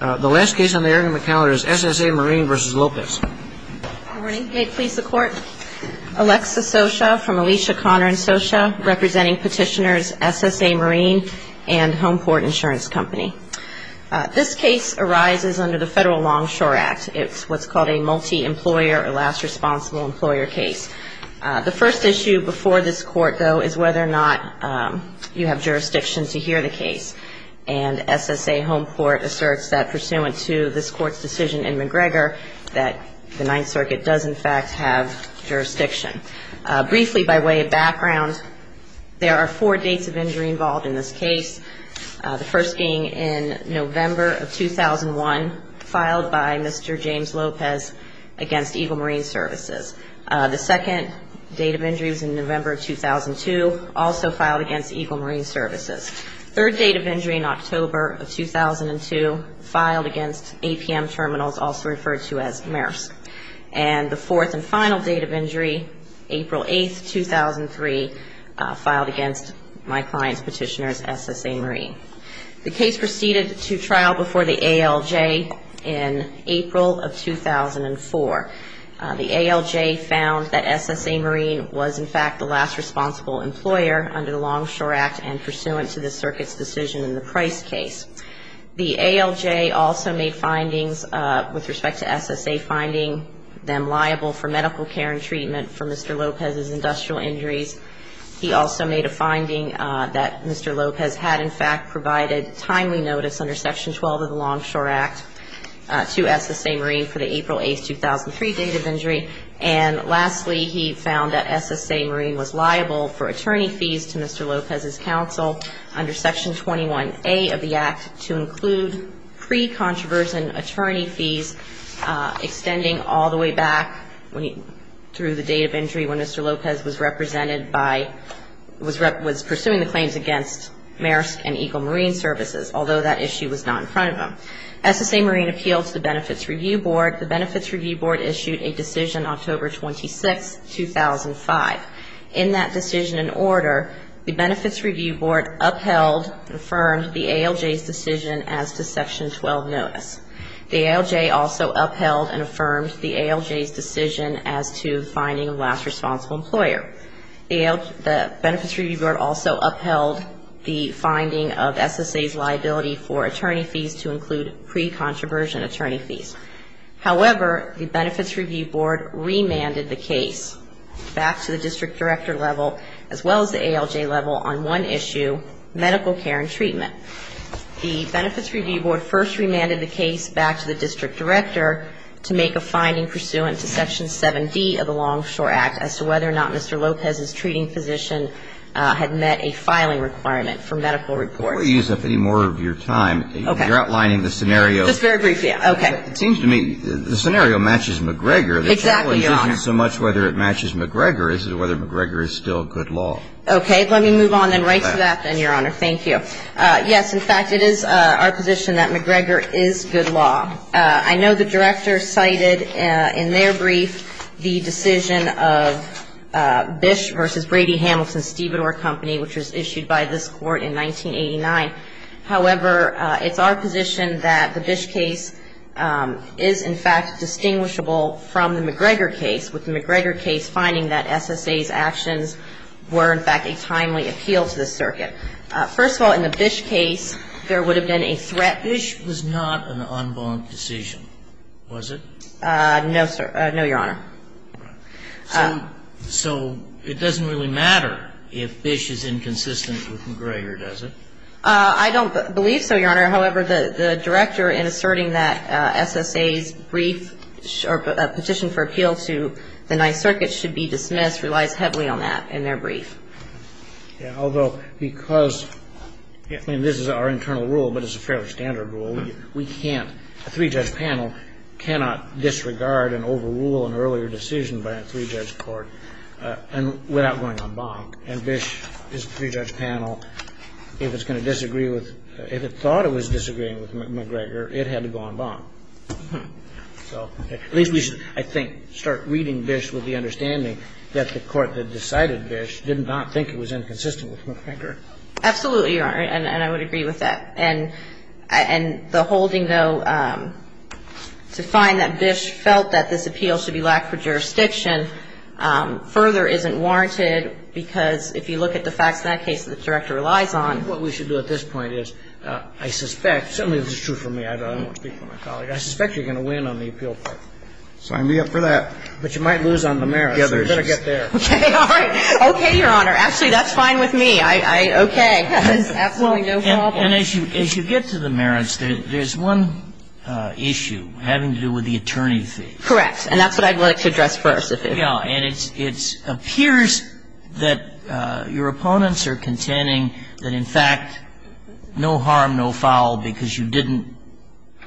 Good morning. May it please the Court, Alexa Sosha from Alicia Connor & Sosha representing petitioners SSA Marine and Homeport Insurance Company. This case arises under the Federal Longshore Act. It's what's called a multi-employer or last responsible employer case. The first issue before this Court, though, is whether or not you have jurisdiction to hear the case. And SSA Homeport asserts that pursuant to this Court's decision in McGregor, that the Ninth Circuit does in fact have jurisdiction. Briefly, by way of background, there are four dates of injury involved in this case. The first being in November of 2001, filed by Mr. James Lopez against Eagle Marine Services. The second date of injury was in November of 2002, also filed against Eagle Marine Services. Third date of injury in October of 2002, filed against APM Terminals, also referred to as MERS. And the fourth and final date of injury, April 8, 2003, filed against my client's petitioners, SSA Marine. The case proceeded to trial before the ALJ in April of 2004. The ALJ found that SSA Marine was in fact the last responsible employer under the Longshore Act and pursuant to this Circuit's decision in the Price case. The ALJ also made findings with respect to SSA finding them liable for medical care and treatment for Mr. Lopez's industrial injuries. He also made a finding that Mr. Lopez had in fact provided timely notice under Section 12 of the Longshore Act to SSA Marine for the April 8, 2003, date of injury. And lastly, he found that SSA Marine was liable for attorney fees to Mr. Lopez's counsel under Section 21A of the Act to include pre-controversial attorney fees extending all the way back through the date of injury when Mr. Lopez was represented by, was pursuing the claims against MERS and Eagle Marine Services, although that issue was not in front of him. SSA Marine appealed to the Benefits Review Board. The Benefits Review Board issued a decision October 26, 2005. In that decision and order, the Benefits Review Board upheld and affirmed the ALJ's decision as to Section 12 notice. The ALJ also upheld and affirmed the ALJ's decision as to finding the last responsible employer. The Benefits Review Board also upheld the finding of SSA's liability for attorney fees to include pre-controversial attorney fees. However, the Benefits Review Board remanded the case back to the district director level as well as the ALJ level on one issue, medical care and treatment. The Benefits Review Board first remanded the case back to the district director to make a finding pursuant to Section 7D of the Longshore Act as to whether or not Mr. Lopez's treating physician had met a filing requirement for medical reports. Before you use up any more of your time, you're outlining the scenario. Just very briefly. Okay. It seems to me the scenario matches McGregor. Exactly, Your Honor. The challenge isn't so much whether it matches McGregor as to whether McGregor is still good law. Okay. Let me move on then right to that then, Your Honor. Thank you. Yes, in fact, it is our position that McGregor is good law. I know the Director cited in their brief the decision of Bish v. Brady-Hamilton-Stevedore Company, which was issued by this Court in 1989. However, it's our position that the Bish case is, in fact, distinguishable from the McGregor case, with the McGregor case finding that SSA's actions were, in fact, a timely appeal to the circuit. First of all, in the Bish case, there would have been a threat. Bish was not an unvolved decision, was it? No, Your Honor. So it doesn't really matter if Bish is inconsistent with McGregor, does it? I don't believe so, Your Honor. However, the Director in asserting that SSA's brief petition for appeal to the Ninth Circuit should be dismissed relies heavily on that in their brief. Although, because, I mean, this is our internal rule, but it's a fairly standard rule, we can't, a three-judge panel cannot disregard and overrule an earlier decision by a three-judge court without going en banc. And Bish, this three-judge panel, if it's going to disagree with, if it thought it was disagreeing with McGregor, it had to go en banc. So at least we should, I think, start reading Bish with the understanding that the court that decided Bish did not think it was inconsistent with McGregor. Absolutely, Your Honor. And I would agree with that. And the holding, though, to find that Bish felt that this appeal should be lacked for jurisdiction further isn't warranted, because if you look at the facts in that case, the Director relies on. And I think what we should do at this point is, I suspect, certainly this is true for me, I don't want to speak for my colleague, I suspect you're going to win on the appeal part, so I'm going to be up for that. But you might lose on the merits, so you better get there. Okay. All right. Okay, Your Honor. Actually, that's fine with me. I, okay. That's absolutely no problem. And as you get to the merits, there's one issue having to do with the attorney fee. Correct. And that's what I'd like to address first. Yes. And it appears that your opponents are contending that, in fact, no harm, no foul, because you didn't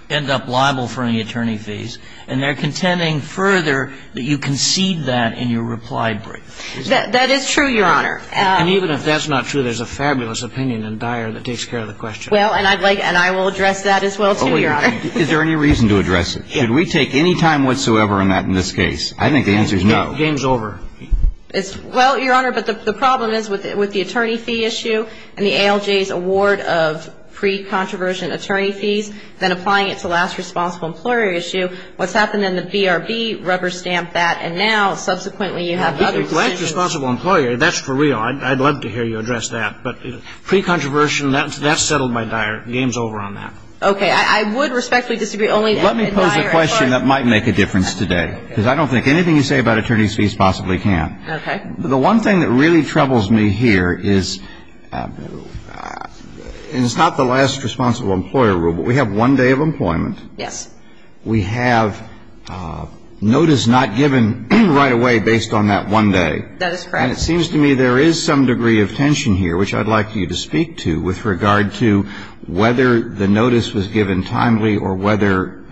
end up liable for any attorney fees. And they're contending further that you concede that in your reply brief. That is true, Your Honor. And even if that's not true, there's a fabulous opinion in Dyer that takes care of the question. Well, and I'd like to, and I will address that as well too, Your Honor. Is there any reason to address it? Should we take any time whatsoever in this case? I think the answer is no. The game's over. Well, Your Honor, but the problem is with the attorney fee issue and the ALJ's award of pre-controversial attorney fees, then applying it to the last responsible employer issue, what's happened then, the BRB rubber-stamped that, and now subsequently you have other decisions. The last responsible employer, that's for real. I'd love to hear you address that. But pre-controversial, that's settled by Dyer. Okay. I would respectfully disagree, only in Dyer, of course. Let me pose a question that might make a difference today, because I don't think anything you say about attorney fees possibly can. Okay. The one thing that really troubles me here is, and it's not the last responsible employer rule, but we have one day of employment. Yes. We have notice not given right away based on that one day. That is correct. And it seems to me there is some degree of tension here, which I'd like you to speak to with regard to whether the notice was given timely or whether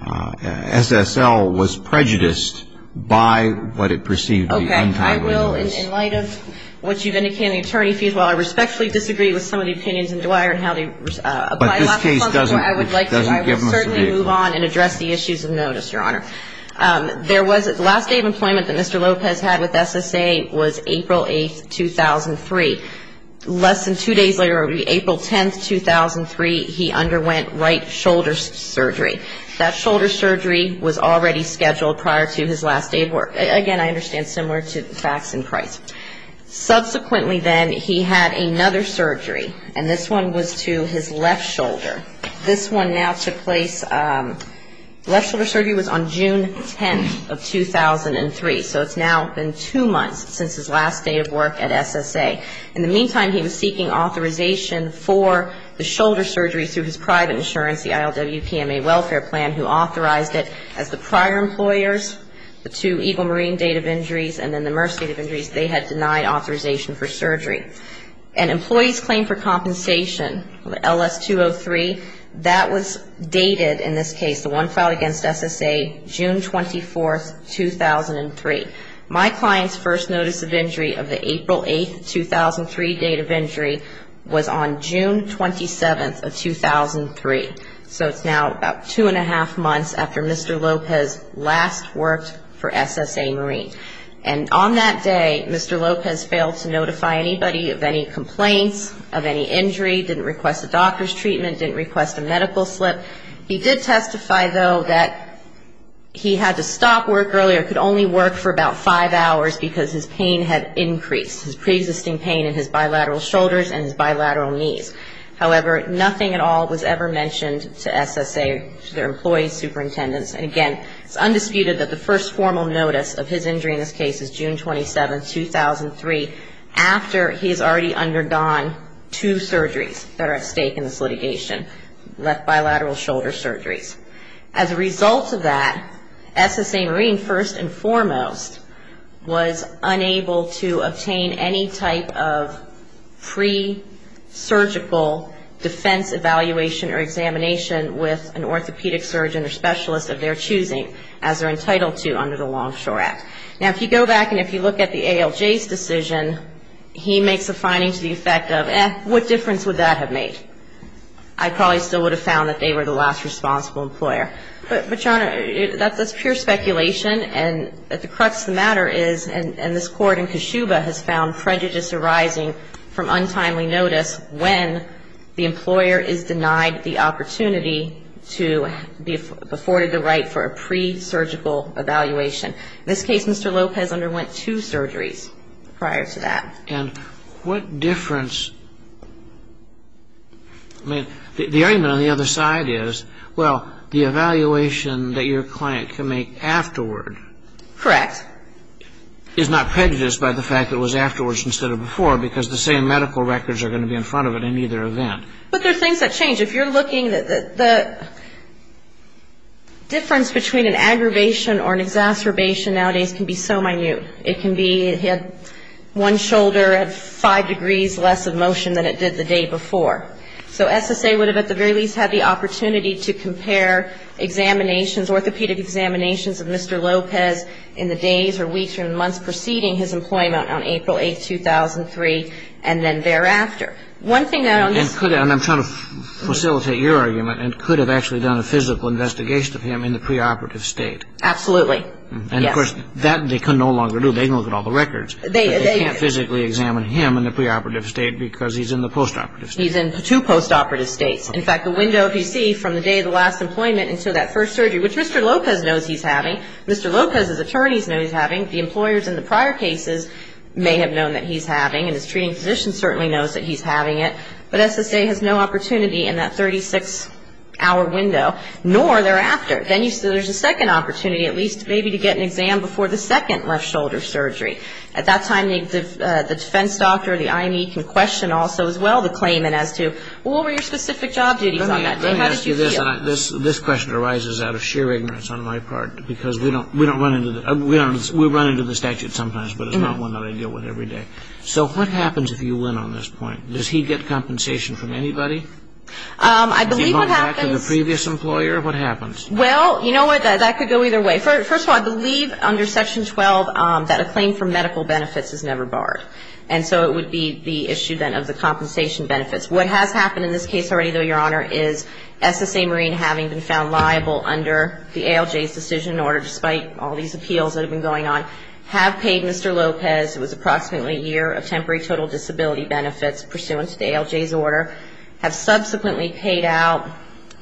SSL was prejudiced by what it perceived to be untimely notice. Okay. I will. In light of what you've indicated in the attorney fees, while I respectfully disagree with some of the opinions in Dyer and how they apply to the last responsible employer, I would like to certainly move on and address the issues of notice, Your Honor. The last day of employment that Mr. Lopez had with SSA was April 8, 2003. Less than two days later, April 10, 2003, he underwent right shoulder surgery. That shoulder surgery was already scheduled prior to his last day of work. Again, I understand similar to facts in Christ. Subsequently then, he had another surgery, and this one was to his left shoulder. This one now took place, left shoulder surgery was on June 10 of 2003. So it's now been two months since his last day of work at SSA. In the meantime, he was seeking authorization for the shoulder surgery through his private insurance, the ILWPMA Welfare Plan, who authorized it. As the prior employers, the two Eagle Marine date of injuries and then the MERS date of injuries, they had denied authorization for surgery. And employee's claim for compensation, LS-203, that was dated in this case, the one filed against SSA, June 24, 2003. My client's first notice of injury of the April 8, 2003 date of injury was on June 27 of 2003. So it's now about two and a half months after Mr. Lopez last worked for SSA Marine. And on that day, Mr. Lopez failed to notify anybody of any complaints, of any injury, didn't request a doctor's treatment, didn't request a medical slip. He did testify, though, that he had to stop work earlier, could only work for about five hours because his pain had increased, his preexisting pain in his bilateral shoulders and his bilateral knees. However, nothing at all was ever mentioned to SSA, to their employee superintendents. And again, it's undisputed that the first formal notice of his injury in this case is June 27, 2003, after he's already undergone two surgeries that are at stake in this litigation, bilateral shoulder surgeries. As a result of that, SSA Marine, first and foremost, was unable to obtain any type of pre-surgical defense evaluation or examination with an orthopedic surgeon or specialist of their choosing, as they're entitled to under the Longshore Act. Now, if you go back and if you look at the ALJ's decision, he makes a finding to the effect of, eh, what difference would that have made? I probably still would have found that they were the last responsible employer. But, John, that's pure speculation, and at the crux of the matter is, and this Court in Keshuba has found prejudice arising from untimely notice when the employer is denied the opportunity to be afforded the right for a pre-surgical evaluation. In this case, Mr. Lopez underwent two surgeries prior to that. And what difference, I mean, the argument on the other side is, well, the evaluation that your client can make afterward is not prejudiced by the fact that it was afterwards instead of before, because the same medical records are going to be in front of it in either event. But there are things that change. If you're looking, the difference between an aggravation or an exacerbation nowadays can be so minute. It can be one shoulder at five degrees less of motion than it did the day before. So SSA would have at the very least had the opportunity to compare examinations, orthopedic examinations of Mr. Lopez in the days or weeks or months preceding his employment on April 8, 2003, and then thereafter. And I'm trying to facilitate your argument. It could have actually done a physical investigation of him in the preoperative state. Absolutely. And, of course, that they can no longer do. They can look at all the records. But they can't physically examine him in the preoperative state because he's in the postoperative state. He's in two postoperative states. In fact, the window, if you see, from the day of the last employment until that first surgery, which Mr. Lopez knows he's having, Mr. Lopez's attorneys know he's having, the employers in the prior cases may have known that he's having, and his treating physician certainly knows that he's having it. But SSA has no opportunity in that 36-hour window, nor thereafter. Then there's a second opportunity at least maybe to get an exam before the second left shoulder surgery. At that time, the defense doctor or the IME can question also as well the claimant as to, well, what were your specific job duties on that day? How did you feel? Let me ask you this. This question arises out of sheer ignorance on my part because we don't run into the statute sometimes, but it's not one that I deal with every day. So what happens if you win on this point? Does he get compensation from anybody? Does he go back to the previous employer? What happens? Well, you know what? That could go either way. First of all, I believe under Section 12 that a claim for medical benefits is never barred. And so it would be the issue then of the compensation benefits. What has happened in this case already, though, Your Honor, is SSA Marine having been found liable under the ALJ's decision in order, despite all these appeals that have been going on, have paid Mr. Lopez. It was approximately a year of temporary total disability benefits pursuant to the ALJ's order, have subsequently paid out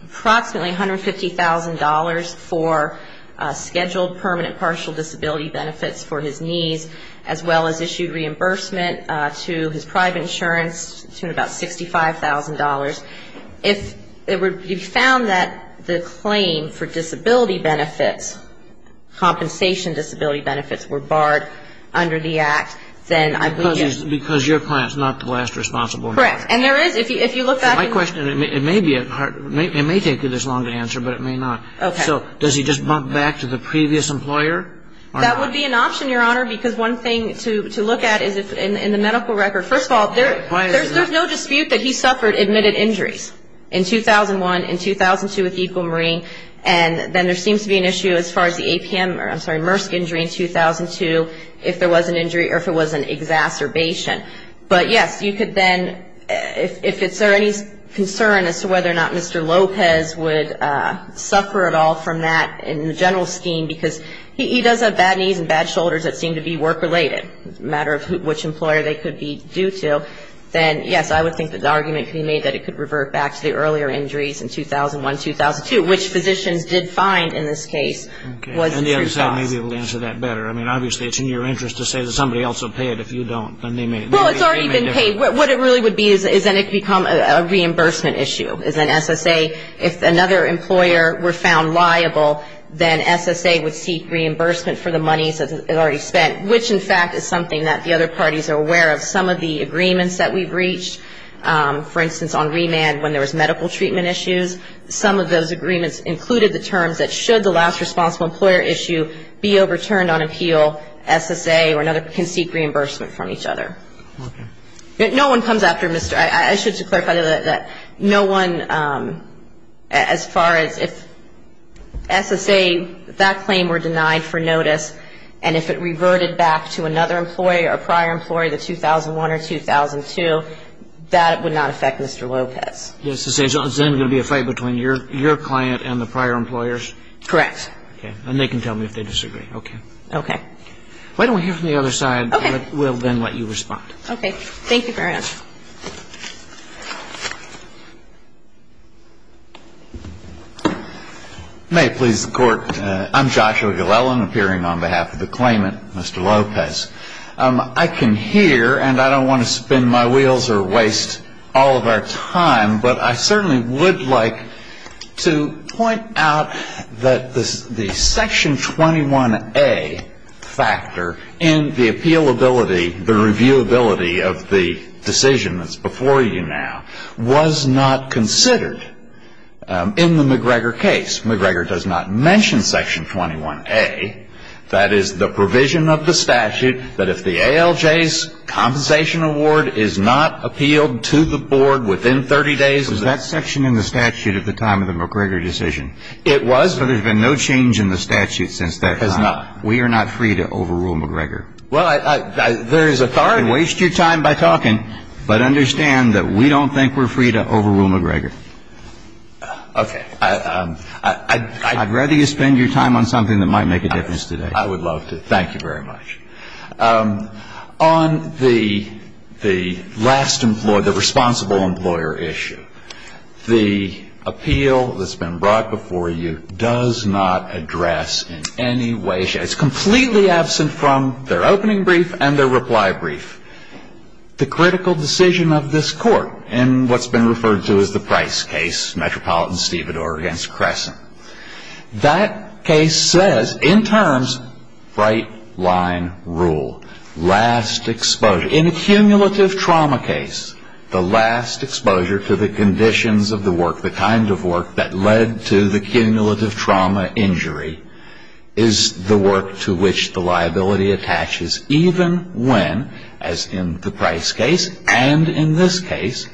approximately $150,000 for scheduled permanent partial disability benefits for his niece, as well as issued reimbursement to his private insurance to about $65,000. If it would be found that the claim for disability benefits, compensation disability benefits, were barred under the Act, then I believe you're... Because your client is not the last responsible. Correct. And there is, if you look back... My question, it may take you this long to answer, but it may not. Okay. So does he just bump back to the previous employer? That would be an option, Your Honor, because one thing to look at is in the medical record, first of all, there's no dispute that he suffered admitted injuries in 2001, in 2002 with Equal Marine, and then there seems to be an issue as far as the APM, I'm sorry, MRSC injury in 2002, if there was an injury or if it was an exacerbation. But, yes, you could then, if there's any concern as to whether or not Mr. Lopez would suffer at all from that in the general scheme, because he does have bad knees and bad shoulders that seem to be work-related. It's a matter of which employer they could be due to. Then, yes, I would think that the argument could be made that he could revert back to the earlier injuries in 2001, 2002, which physicians did find in this case was the true cause. Okay. And the other side may be able to answer that better. I mean, obviously, it's in your interest to say that somebody else will pay it if you don't. Well, it's already been paid. What it really would be is then it could become a reimbursement issue. As an SSA, if another employer were found liable, then SSA would seek reimbursement for the money that's already spent, which, in fact, is something that the other parties are aware of. Some of the agreements that we've reached, for instance, on remand when there was medical treatment issues, some of those agreements included the terms that should the last responsible employer issue be overturned on appeal, SSA or another can seek reimbursement from each other. Okay. No one comes after Mr. ---- I should just clarify that no one, as far as if SSA, that claim were denied for notice, and if it reverted back to another employee or prior employee, the 2001 or 2002, that would not affect Mr. Lopez. Yes. So it's then going to be a fight between your client and the prior employers? Correct. Okay. And they can tell me if they disagree. Okay. Okay. Why don't we hear from the other side. Okay. We'll then let you respond. Okay. Thank you for your answer. May it please the Court. I'm Joshua Glellen, appearing on behalf of the claimant, Mr. Lopez. I can hear, and I don't want to spin my wheels or waste all of our time, but I certainly would like to point out that the Section 21A factor in the appealability, the reviewability of the decision that's before you now, was not considered in the McGregor case. McGregor does not mention Section 21A, that is, the provision of the statute, that if the ALJ's compensation award is not appealed to the Board within 30 days of the decision. Was that section in the statute at the time of the McGregor decision? It was. But there's been no change in the statute since that time. There has not. We are not free to overrule McGregor. Well, there is authority. You can waste your time by talking, but understand that we don't think we're free to overrule McGregor. Okay. I'd rather you spend your time on something that might make a difference today. I would love to. Thank you very much. On the last employer, the responsible employer issue, the appeal that's been brought before you does not address in any way, it's completely absent from their opening brief and their reply brief, the critical decision of this Court in what's been referred to as the Price case, Metropolitan-Stevador against Crescent. That case says, in terms, right-line rule, last exposure. In a cumulative trauma case, the last exposure to the conditions of the work, the kind of work that led to the cumulative trauma injury, is the work to which the liability attaches, even when, as in the Price case and in this case,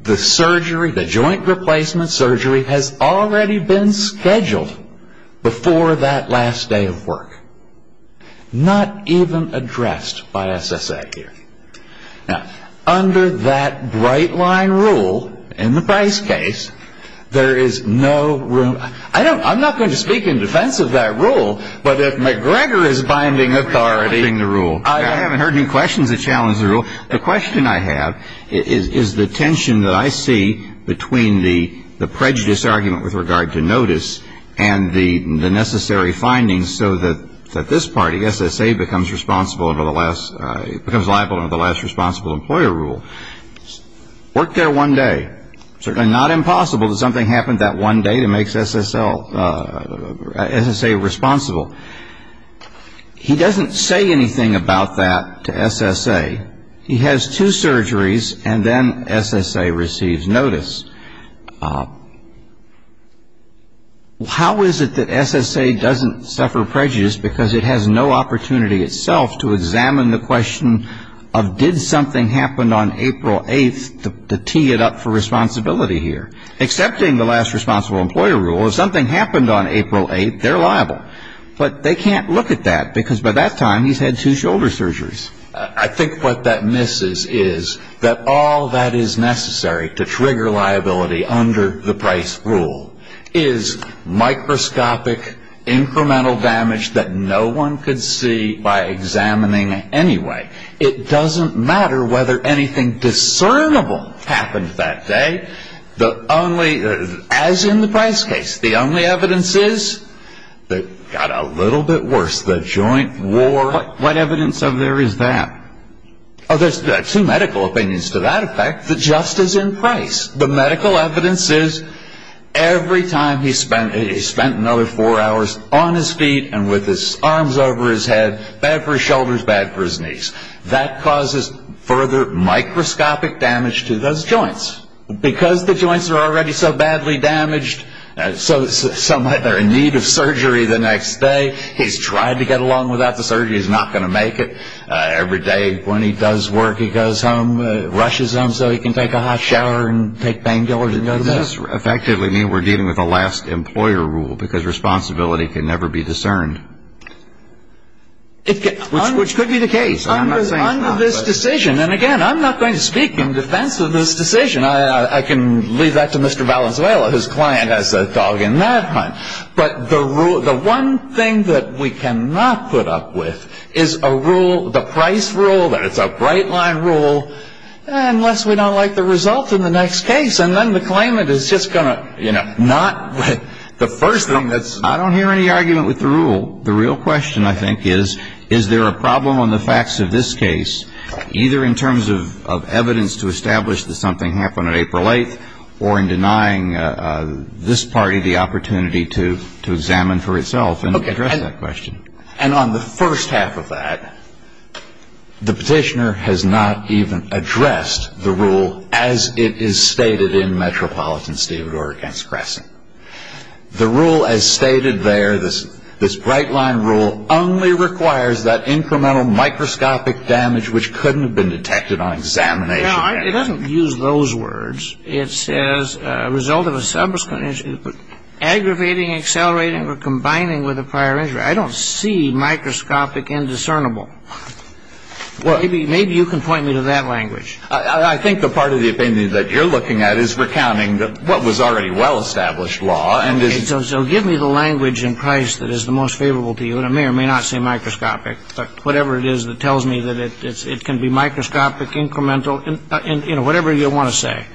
the surgery, the joint replacement surgery, has already been scheduled before that last day of work. Not even addressed by SSA here. Now, under that right-line rule in the Price case, there is no room. I'm not going to speak in defense of that rule, but if McGregor is binding authority. I haven't heard any questions that challenge the rule. The question I have is the tension that I see between the prejudice argument with regard to notice and the necessary findings so that this party, SSA, becomes liable under the last responsible employer rule. Work there one day. Certainly not impossible that something happened that one day that makes SSA responsible. He doesn't say anything about that to SSA. He has two surgeries, and then SSA receives notice. How is it that SSA doesn't suffer prejudice because it has no opportunity itself to examine the question of, did something happen on April 8th to tee it up for responsibility here? Accepting the last responsible employer rule, if something happened on April 8th, they're liable. But they can't look at that because by that time he's had two shoulder surgeries. I think what that misses is that all that is necessary to trigger liability under the Price rule is microscopic, incremental damage that no one could see by examining anyway. It doesn't matter whether anything discernible happened that day. As in the Price case, the only evidence is it got a little bit worse, the joint war. What evidence of there is that? There's two medical opinions to that effect that just as in Price. The medical evidence is every time he spent another four hours on his feet and with his arms over his head, bad for his shoulders, bad for his knees. That causes further microscopic damage to those joints. Because the joints are already so badly damaged, they're in need of surgery the next day. He's tried to get along without the surgery. He's not going to make it. Every day when he does work, he goes home, rushes home so he can take a hot shower and take painkillers and go to bed. Does this effectively mean we're dealing with a last employer rule because responsibility can never be discerned? Which could be the case. Under this decision, and again, I'm not going to speak in defense of this decision. I can leave that to Mr. Valenzuela, his client, as a dog in that hunt. But the one thing that we cannot put up with is a rule, the Price rule, that it's a bright-line rule, unless we don't like the result in the next case. And then the claimant is just going to, you know, not the first thing that's. I don't hear any argument with the rule. The real question, I think, is, is there a problem on the facts of this case, either in terms of evidence to establish that something happened on April 8th or in denying this party the opportunity to examine for itself and address that question. And on the first half of that, the petitioner has not even addressed the rule as it is stated in Metropolitan State of Oregon's Crescent. The rule as stated there, this bright-line rule, only requires that incremental microscopic damage which couldn't have been detected on examination. Now, it doesn't use those words. It says, a result of a subsequent aggravating, accelerating, or combining with a prior injury. I don't see microscopic and discernible. Maybe you can point me to that language. I think the part of the opinion that you're looking at is recounting what was already well-established law. So give me the language in Price that is the most favorable to you. And I may or may not say microscopic. But whatever it is that tells me that it can be microscopic, incremental, you know, whatever you want to say.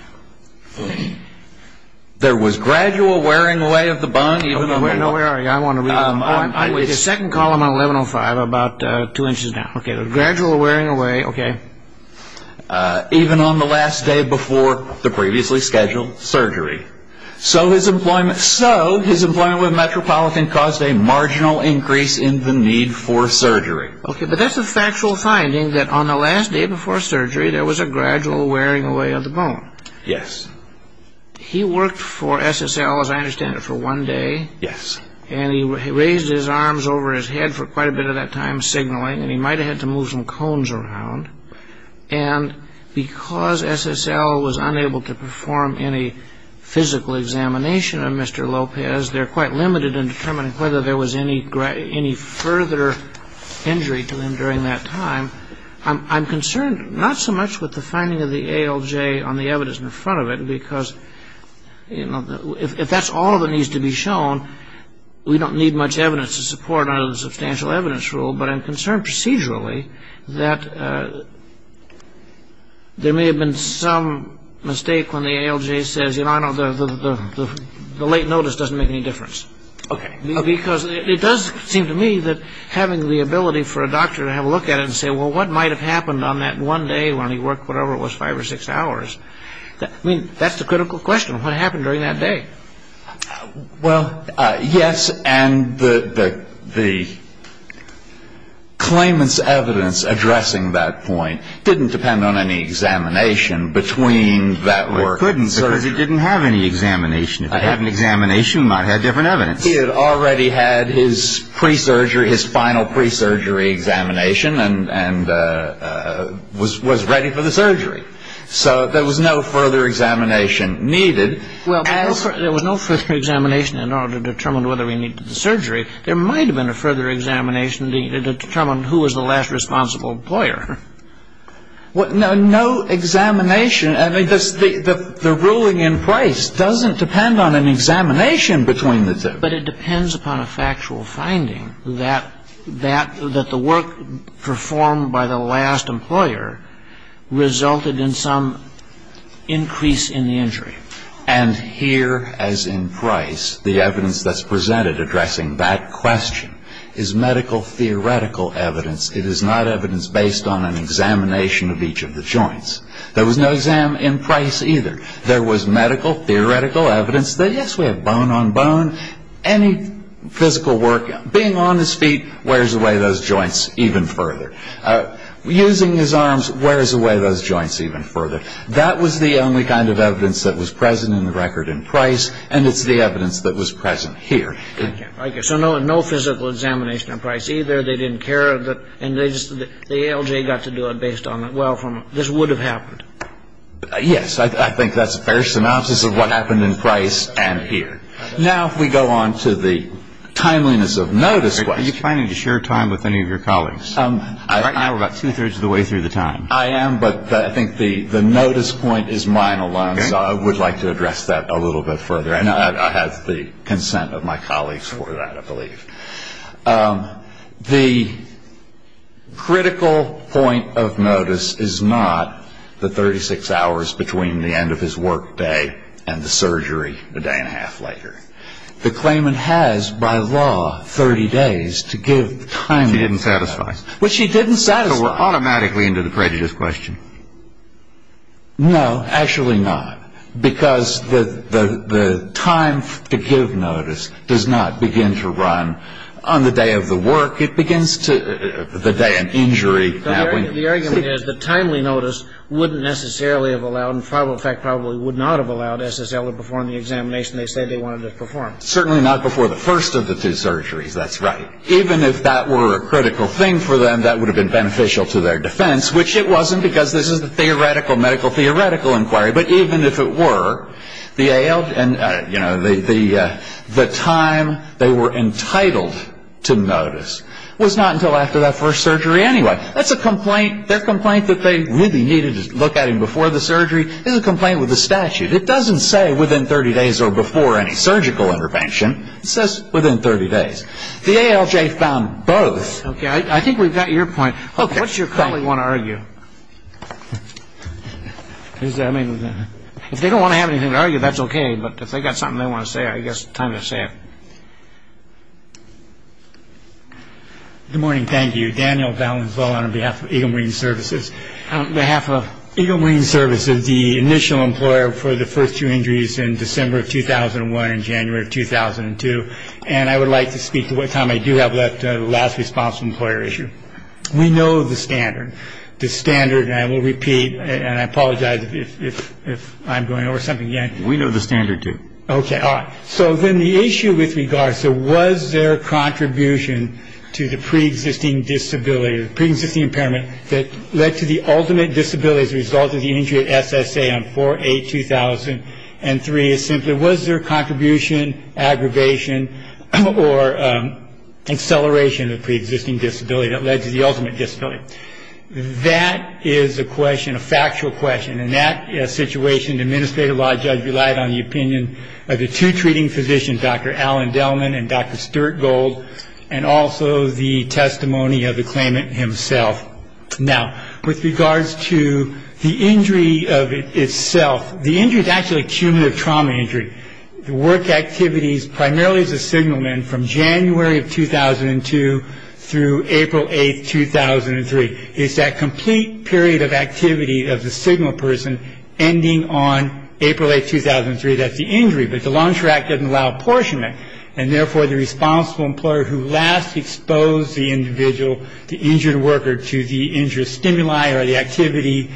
There was gradual wearing away of the bond, even though we're not. Where are you? I don't want to read it. The second column on 1105, about two inches down. Okay, the gradual wearing away, okay. Even on the last day before the previously scheduled surgery. So his employment with Metropolitan caused a marginal increase in the need for surgery. Okay, but that's a factual finding that on the last day before surgery, there was a gradual wearing away of the bond. Yes. He worked for SSL, as I understand it, for one day. Yes. And he raised his arms over his head for quite a bit of that time, signaling. And he might have had to move some cones around. And because SSL was unable to perform any physical examination of Mr. Lopez, they're quite limited in determining whether there was any further injury to him during that time. I'm concerned not so much with the finding of the ALJ on the evidence in front of it, because, you know, if that's all that needs to be shown, we don't need much evidence to support it under the substantial evidence rule. But I'm concerned procedurally that there may have been some mistake when the ALJ says, you know, I know the late notice doesn't make any difference. Okay. Because it does seem to me that having the ability for a doctor to have a look at it and say, well, what might have happened on that one day when he worked whatever it was, five or six hours, I mean, that's the critical question. What happened during that day? Well, yes. And the claimant's evidence addressing that point didn't depend on any examination between that work and surgery. It couldn't because he didn't have any examination. If he had an examination, he might have had different evidence. He had already had his pre-surgery, his final pre-surgery examination and was ready for the surgery. So there was no further examination needed. Well, there was no further examination in order to determine whether he needed the surgery. There might have been a further examination to determine who was the last responsible employer. No examination. I mean, the ruling in place doesn't depend on an examination between the two. But it depends upon a factual finding that the work performed by the last employer resulted in some increase in the injury. And here, as in Price, the evidence that's presented addressing that question is medical theoretical evidence. It is not evidence based on an examination of each of the joints. There was no exam in Price either. There was medical theoretical evidence that, yes, we have bone on bone. Any physical work, being on his feet, wears away those joints even further. Using his arms wears away those joints even further. That was the only kind of evidence that was present in the record in Price. And it's the evidence that was present here. So no physical examination in Price either. They didn't care. And the ALJ got to do it based on that. Well, this would have happened. Yes. I think that's a fair synopsis of what happened in Price and here. Now if we go on to the timeliness of notice. Are you planning to share time with any of your colleagues? Right now we're about two-thirds of the way through the time. I am, but I think the notice point is mine alone. So I would like to address that a little bit further. And I have the consent of my colleagues for that, I believe. The critical point of notice is not the 36 hours between the end of his work day and the surgery a day and a half later. The claimant has, by law, 30 days to give time. Which he didn't satisfy. Which he didn't satisfy. So we're automatically into the prejudice question. No, actually not. Because the time to give notice does not begin to run on the day of the work. It begins to the day of injury. The argument is the timely notice wouldn't necessarily have allowed, in fact probably would not have allowed SSL to perform the examination they said they wanted to perform. Certainly not before the first of the two surgeries. That's right. Even if that were a critical thing for them, that would have been beneficial to their defense. Which it wasn't because this is a theoretical medical theoretical inquiry. But even if it were, the ALJ and, you know, the time they were entitled to notice was not until after that first surgery anyway. That's a complaint. Their complaint that they really needed to look at him before the surgery is a complaint with the statute. It doesn't say within 30 days or before any surgical intervention. It says within 30 days. The ALJ found both. Okay. I think we've got your point. What's your colleague want to argue? I mean, if they don't want to have anything to argue, that's okay. But if they've got something they want to say, I guess it's time to say it. Good morning. Thank you. Daniel Valenzuela on behalf of Eagle Marine Services. On behalf of Eagle Marine Services, the initial employer for the first two injuries in December of 2001 and January of 2002. And I would like to speak to what time I do have left the last responsible employer issue. We know the standard. The standard, and I will repeat, and I apologize if I'm going over something again. We know the standard, too. Okay. All right. So then the issue with regards to was there a contribution to the preexisting disability, the preexisting impairment that led to the ultimate disability as a result of the injury at SSA on 4-8-2003 is simply, was there contribution, aggravation, or acceleration of the preexisting disability that led to the ultimate disability? That is a question, a factual question. And that situation, the administrative law judge relied on the opinion of the two treating physicians, Dr. Alan Dellman and Dr. Stuart Gold, and also the testimony of the claimant himself. Now, with regards to the injury of itself, the injury is actually cumulative trauma injury. The work activities primarily as a signalman from January of 2002 through April 8, 2003. It's that complete period of activity of the signal person ending on April 8, 2003. That's the injury. But the Law Enforcement Act doesn't allow apportionment. And therefore, the responsible employer who last exposed the individual, the injured worker, to the injured stimuli or the activity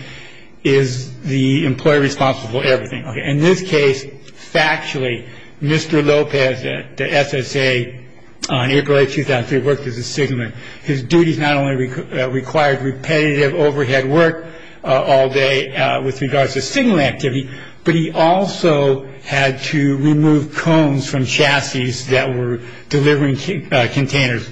is the employer responsible for everything. Okay. In this case, factually, Mr. Lopez, the SSA, on April 8, 2003, worked as a signalman. His duties not only required repetitive overhead work all day with regards to signal activity, but he also had to remove cones from chassis that were delivering containers.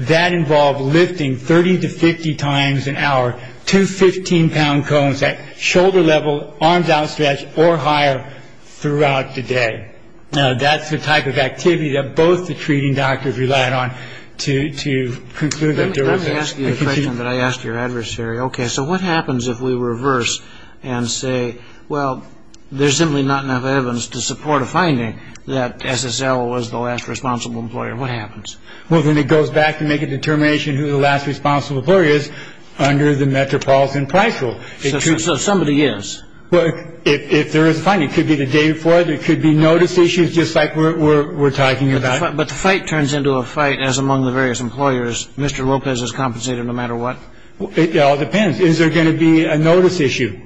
That involved lifting 30 to 50 times an hour two 15-pound cones at shoulder level, arms outstretched or higher throughout the day. Now, that's the type of activity that both the treating doctors relied on. To conclude, Dr. Lopez. Let me ask you a question that I asked your adversary. Okay. So what happens if we reverse and say, well, there's simply not enough evidence to support a finding that SSL was the last responsible employer? What happens? Well, then it goes back to make a determination who the last responsible employer is under the Metropolitan Price Rule. So somebody is. Well, if there is a finding, it could be the day before, there could be notice issues, just like we're talking about. But the fight turns into a fight as among the various employers. Mr. Lopez is compensated no matter what. It all depends. Is there going to be a notice issue?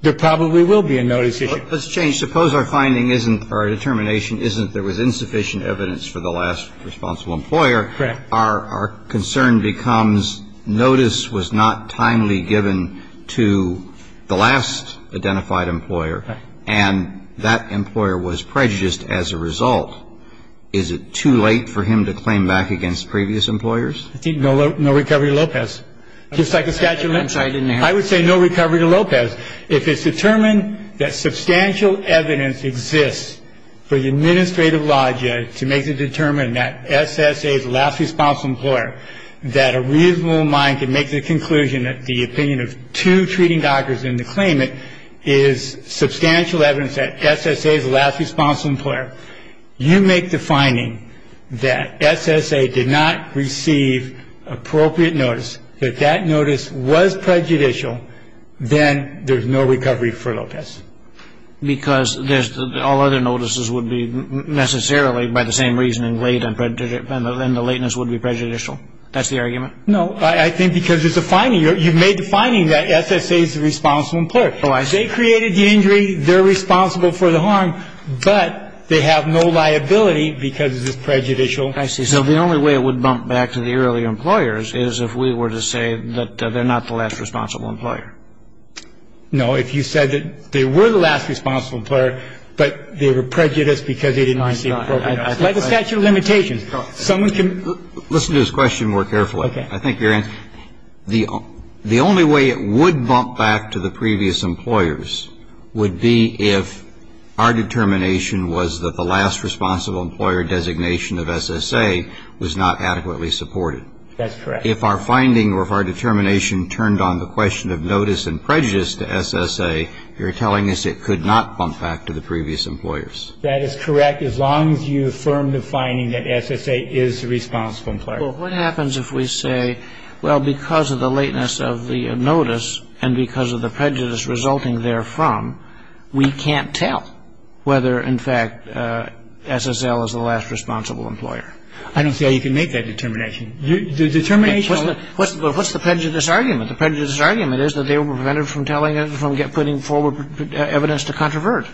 There probably will be a notice issue. Let's change. Suppose our finding isn't or determination isn't there was insufficient evidence for the last responsible employer. Correct. Our concern becomes notice was not timely given to the last identified employer. And that employer was prejudiced as a result. Is it too late for him to claim back against previous employers? No recovery to Lopez. Just like a statute of limits. I would say no recovery to Lopez. If it's determined that substantial evidence exists for the administrative logic to make the determination that SSA is the last responsible employer, that a reasonable mind can make the conclusion that the opinion of two treating doctors in the claimant is substantial evidence that SSA is the last responsible employer, you make the finding that SSA did not receive appropriate notice, that that notice was prejudicial, then there's no recovery for Lopez. Because all other notices would be necessarily by the same reason and the lateness would be prejudicial. That's the argument? No. I think because it's a finding. You've made the finding that SSA is the responsible employer. They created the injury. They're responsible for the harm. But they have no liability because it's prejudicial. I see. So the only way it would bump back to the early employers is if we were to say that they're not the last responsible employer. No. If you said that they were the last responsible employer, but they were prejudiced because they didn't receive appropriate notice. Like a statute of limitations. Someone can ---- Listen to this question more carefully. Okay. I think you're in. The only way it would bump back to the previous employers would be if our determination was that the last responsible employer designation of SSA was not adequately supported. That's correct. If our finding or if our determination turned on the question of notice and prejudice to SSA, you're telling us it could not bump back to the previous employers. That is correct as long as you affirm the finding that SSA is the responsible employer. Well, what happens if we say, well, because of the lateness of the notice and because of the prejudice resulting therefrom, we can't tell whether, in fact, SSL is the last responsible employer. I don't see how you can make that determination. The determination ---- What's the prejudice argument? The prejudice argument is that they were prevented from putting forward evidence to controvert.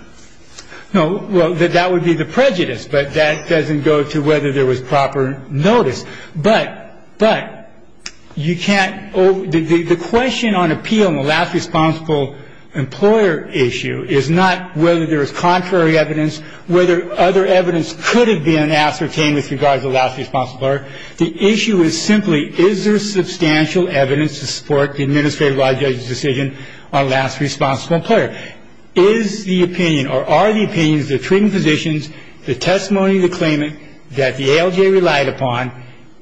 No. Well, that would be the prejudice. But that doesn't go to whether there was proper notice. But you can't ---- The question on appeal in the last responsible employer issue is not whether there is contrary evidence, whether other evidence could have been ascertained with regard to the last responsible employer. The issue is simply is there substantial evidence to support the administrative law judge's decision on the last responsible employer. Is the opinion or are the opinions of the treating physicians, the testimony of the claimant that the ALJ relied upon,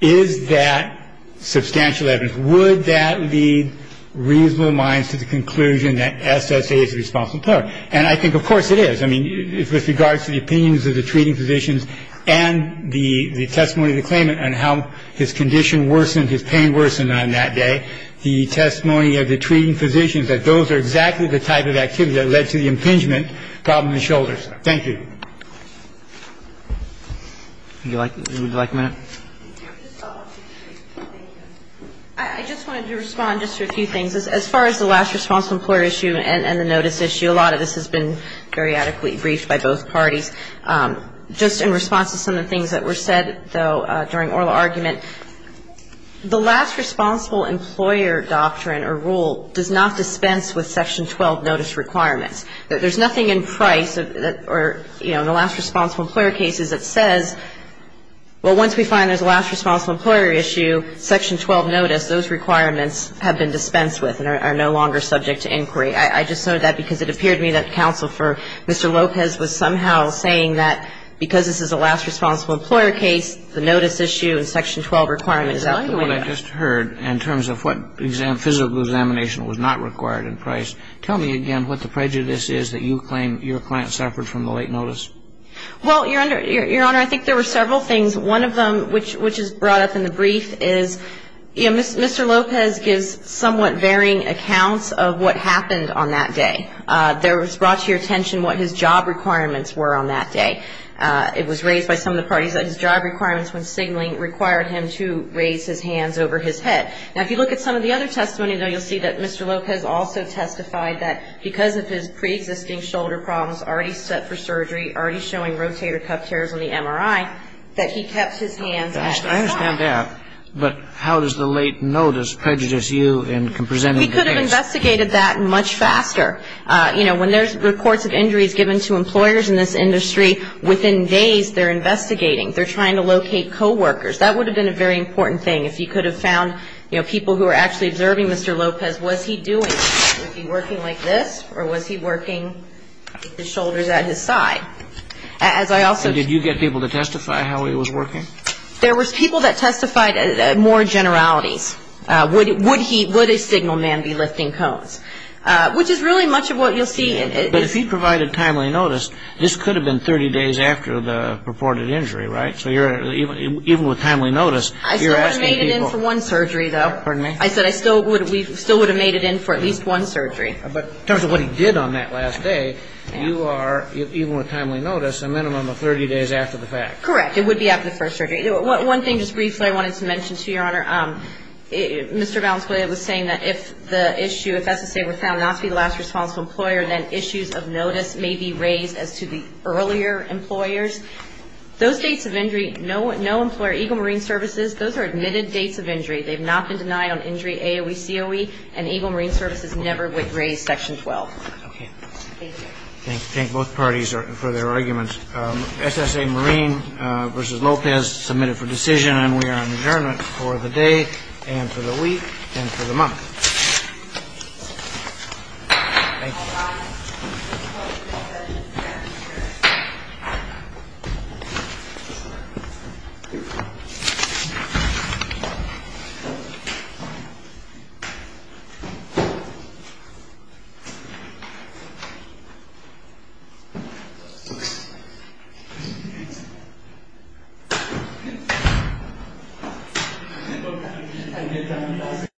is that substantial evidence? Would that lead reasonable minds to the conclusion that SSA is the responsible employer? And I think, of course, it is. I mean, with regard to the opinions of the treating physicians and the testimony of the claimant on how his condition worsened, his pain worsened on that day, the testimony of the treating physicians, that those are exactly the type of activity that led to the impingement problem in shoulders. Thank you. Would you like a minute? I just wanted to respond just to a few things. As far as the last responsible employer issue and the notice issue, a lot of this has been periodically briefed by both parties. Just in response to some of the things that were said, though, during oral argument, the last responsible employer doctrine or rule does not dispense with Section 12 notice requirements. There's nothing in Price or, you know, in the last responsible employer cases that says, well, once we find there's a last responsible employer issue, Section 12 notice, those requirements have been dispensed with and are no longer subject to inquiry. I just noted that because it appeared to me that Counsel for Mr. Lopez was somehow saying that because this is a last responsible employer case, the notice issue and Section 12 requirement is out the window. In the argument I just heard in terms of what physical examination was not required in Price, tell me again what the prejudice is that you claim your client suffered from the late notice. Well, Your Honor, I think there were several things. One of them, which is brought up in the brief, is, you know, Mr. Lopez gives somewhat varying accounts of what happened on that day. There was brought to your attention what his job requirements were on that day. It was raised by some of the parties that his job requirements when signaling required him to raise his hands over his head. Now, if you look at some of the other testimony, though, you'll see that Mr. Lopez also testified that because of his preexisting shoulder problems, already set for surgery, already showing rotator cuff tears on the MRI, that he kept his hands up. I understand that. But how does the late notice prejudice you in presenting the case? He could have investigated that much faster. You know, when there's reports of injuries given to employers in this industry, within days they're investigating. They're trying to locate coworkers. That would have been a very important thing. If he could have found, you know, people who were actually observing Mr. Lopez, what was he doing? Was he working like this? Or was he working his shoulders at his side? Did you get people to testify how he was working? There was people that testified more generalities. Would a signal man be lifting cones? Which is really much of what you'll see. But if he provided timely notice, this could have been 30 days after the purported injury, right? So even with timely notice, you're asking people. I still would have made it in for one surgery, though. Pardon me? I said I still would have made it in for at least one surgery. But in terms of what he did on that last day, you are, even with timely notice, a minimum of 30 days after the fact. Correct. It would be after the first surgery. One thing just briefly I wanted to mention to you, Your Honor, Mr. Valenzuela was saying that if the issue, if SSA were found not to be the last responsible employer, then issues of notice may be raised as to the earlier employers. Those dates of injury, no employer, EGLE Marine Services, those are admitted dates of injury. They've not been denied on injury AOE, COE, and EGLE Marine Services never raised Section 12. Okay. Thank you. Thank both parties for their arguments. SSA Marine v. Lopez submitted for decision, and we are on adjournment for the day and for the week and for the month. Thank you.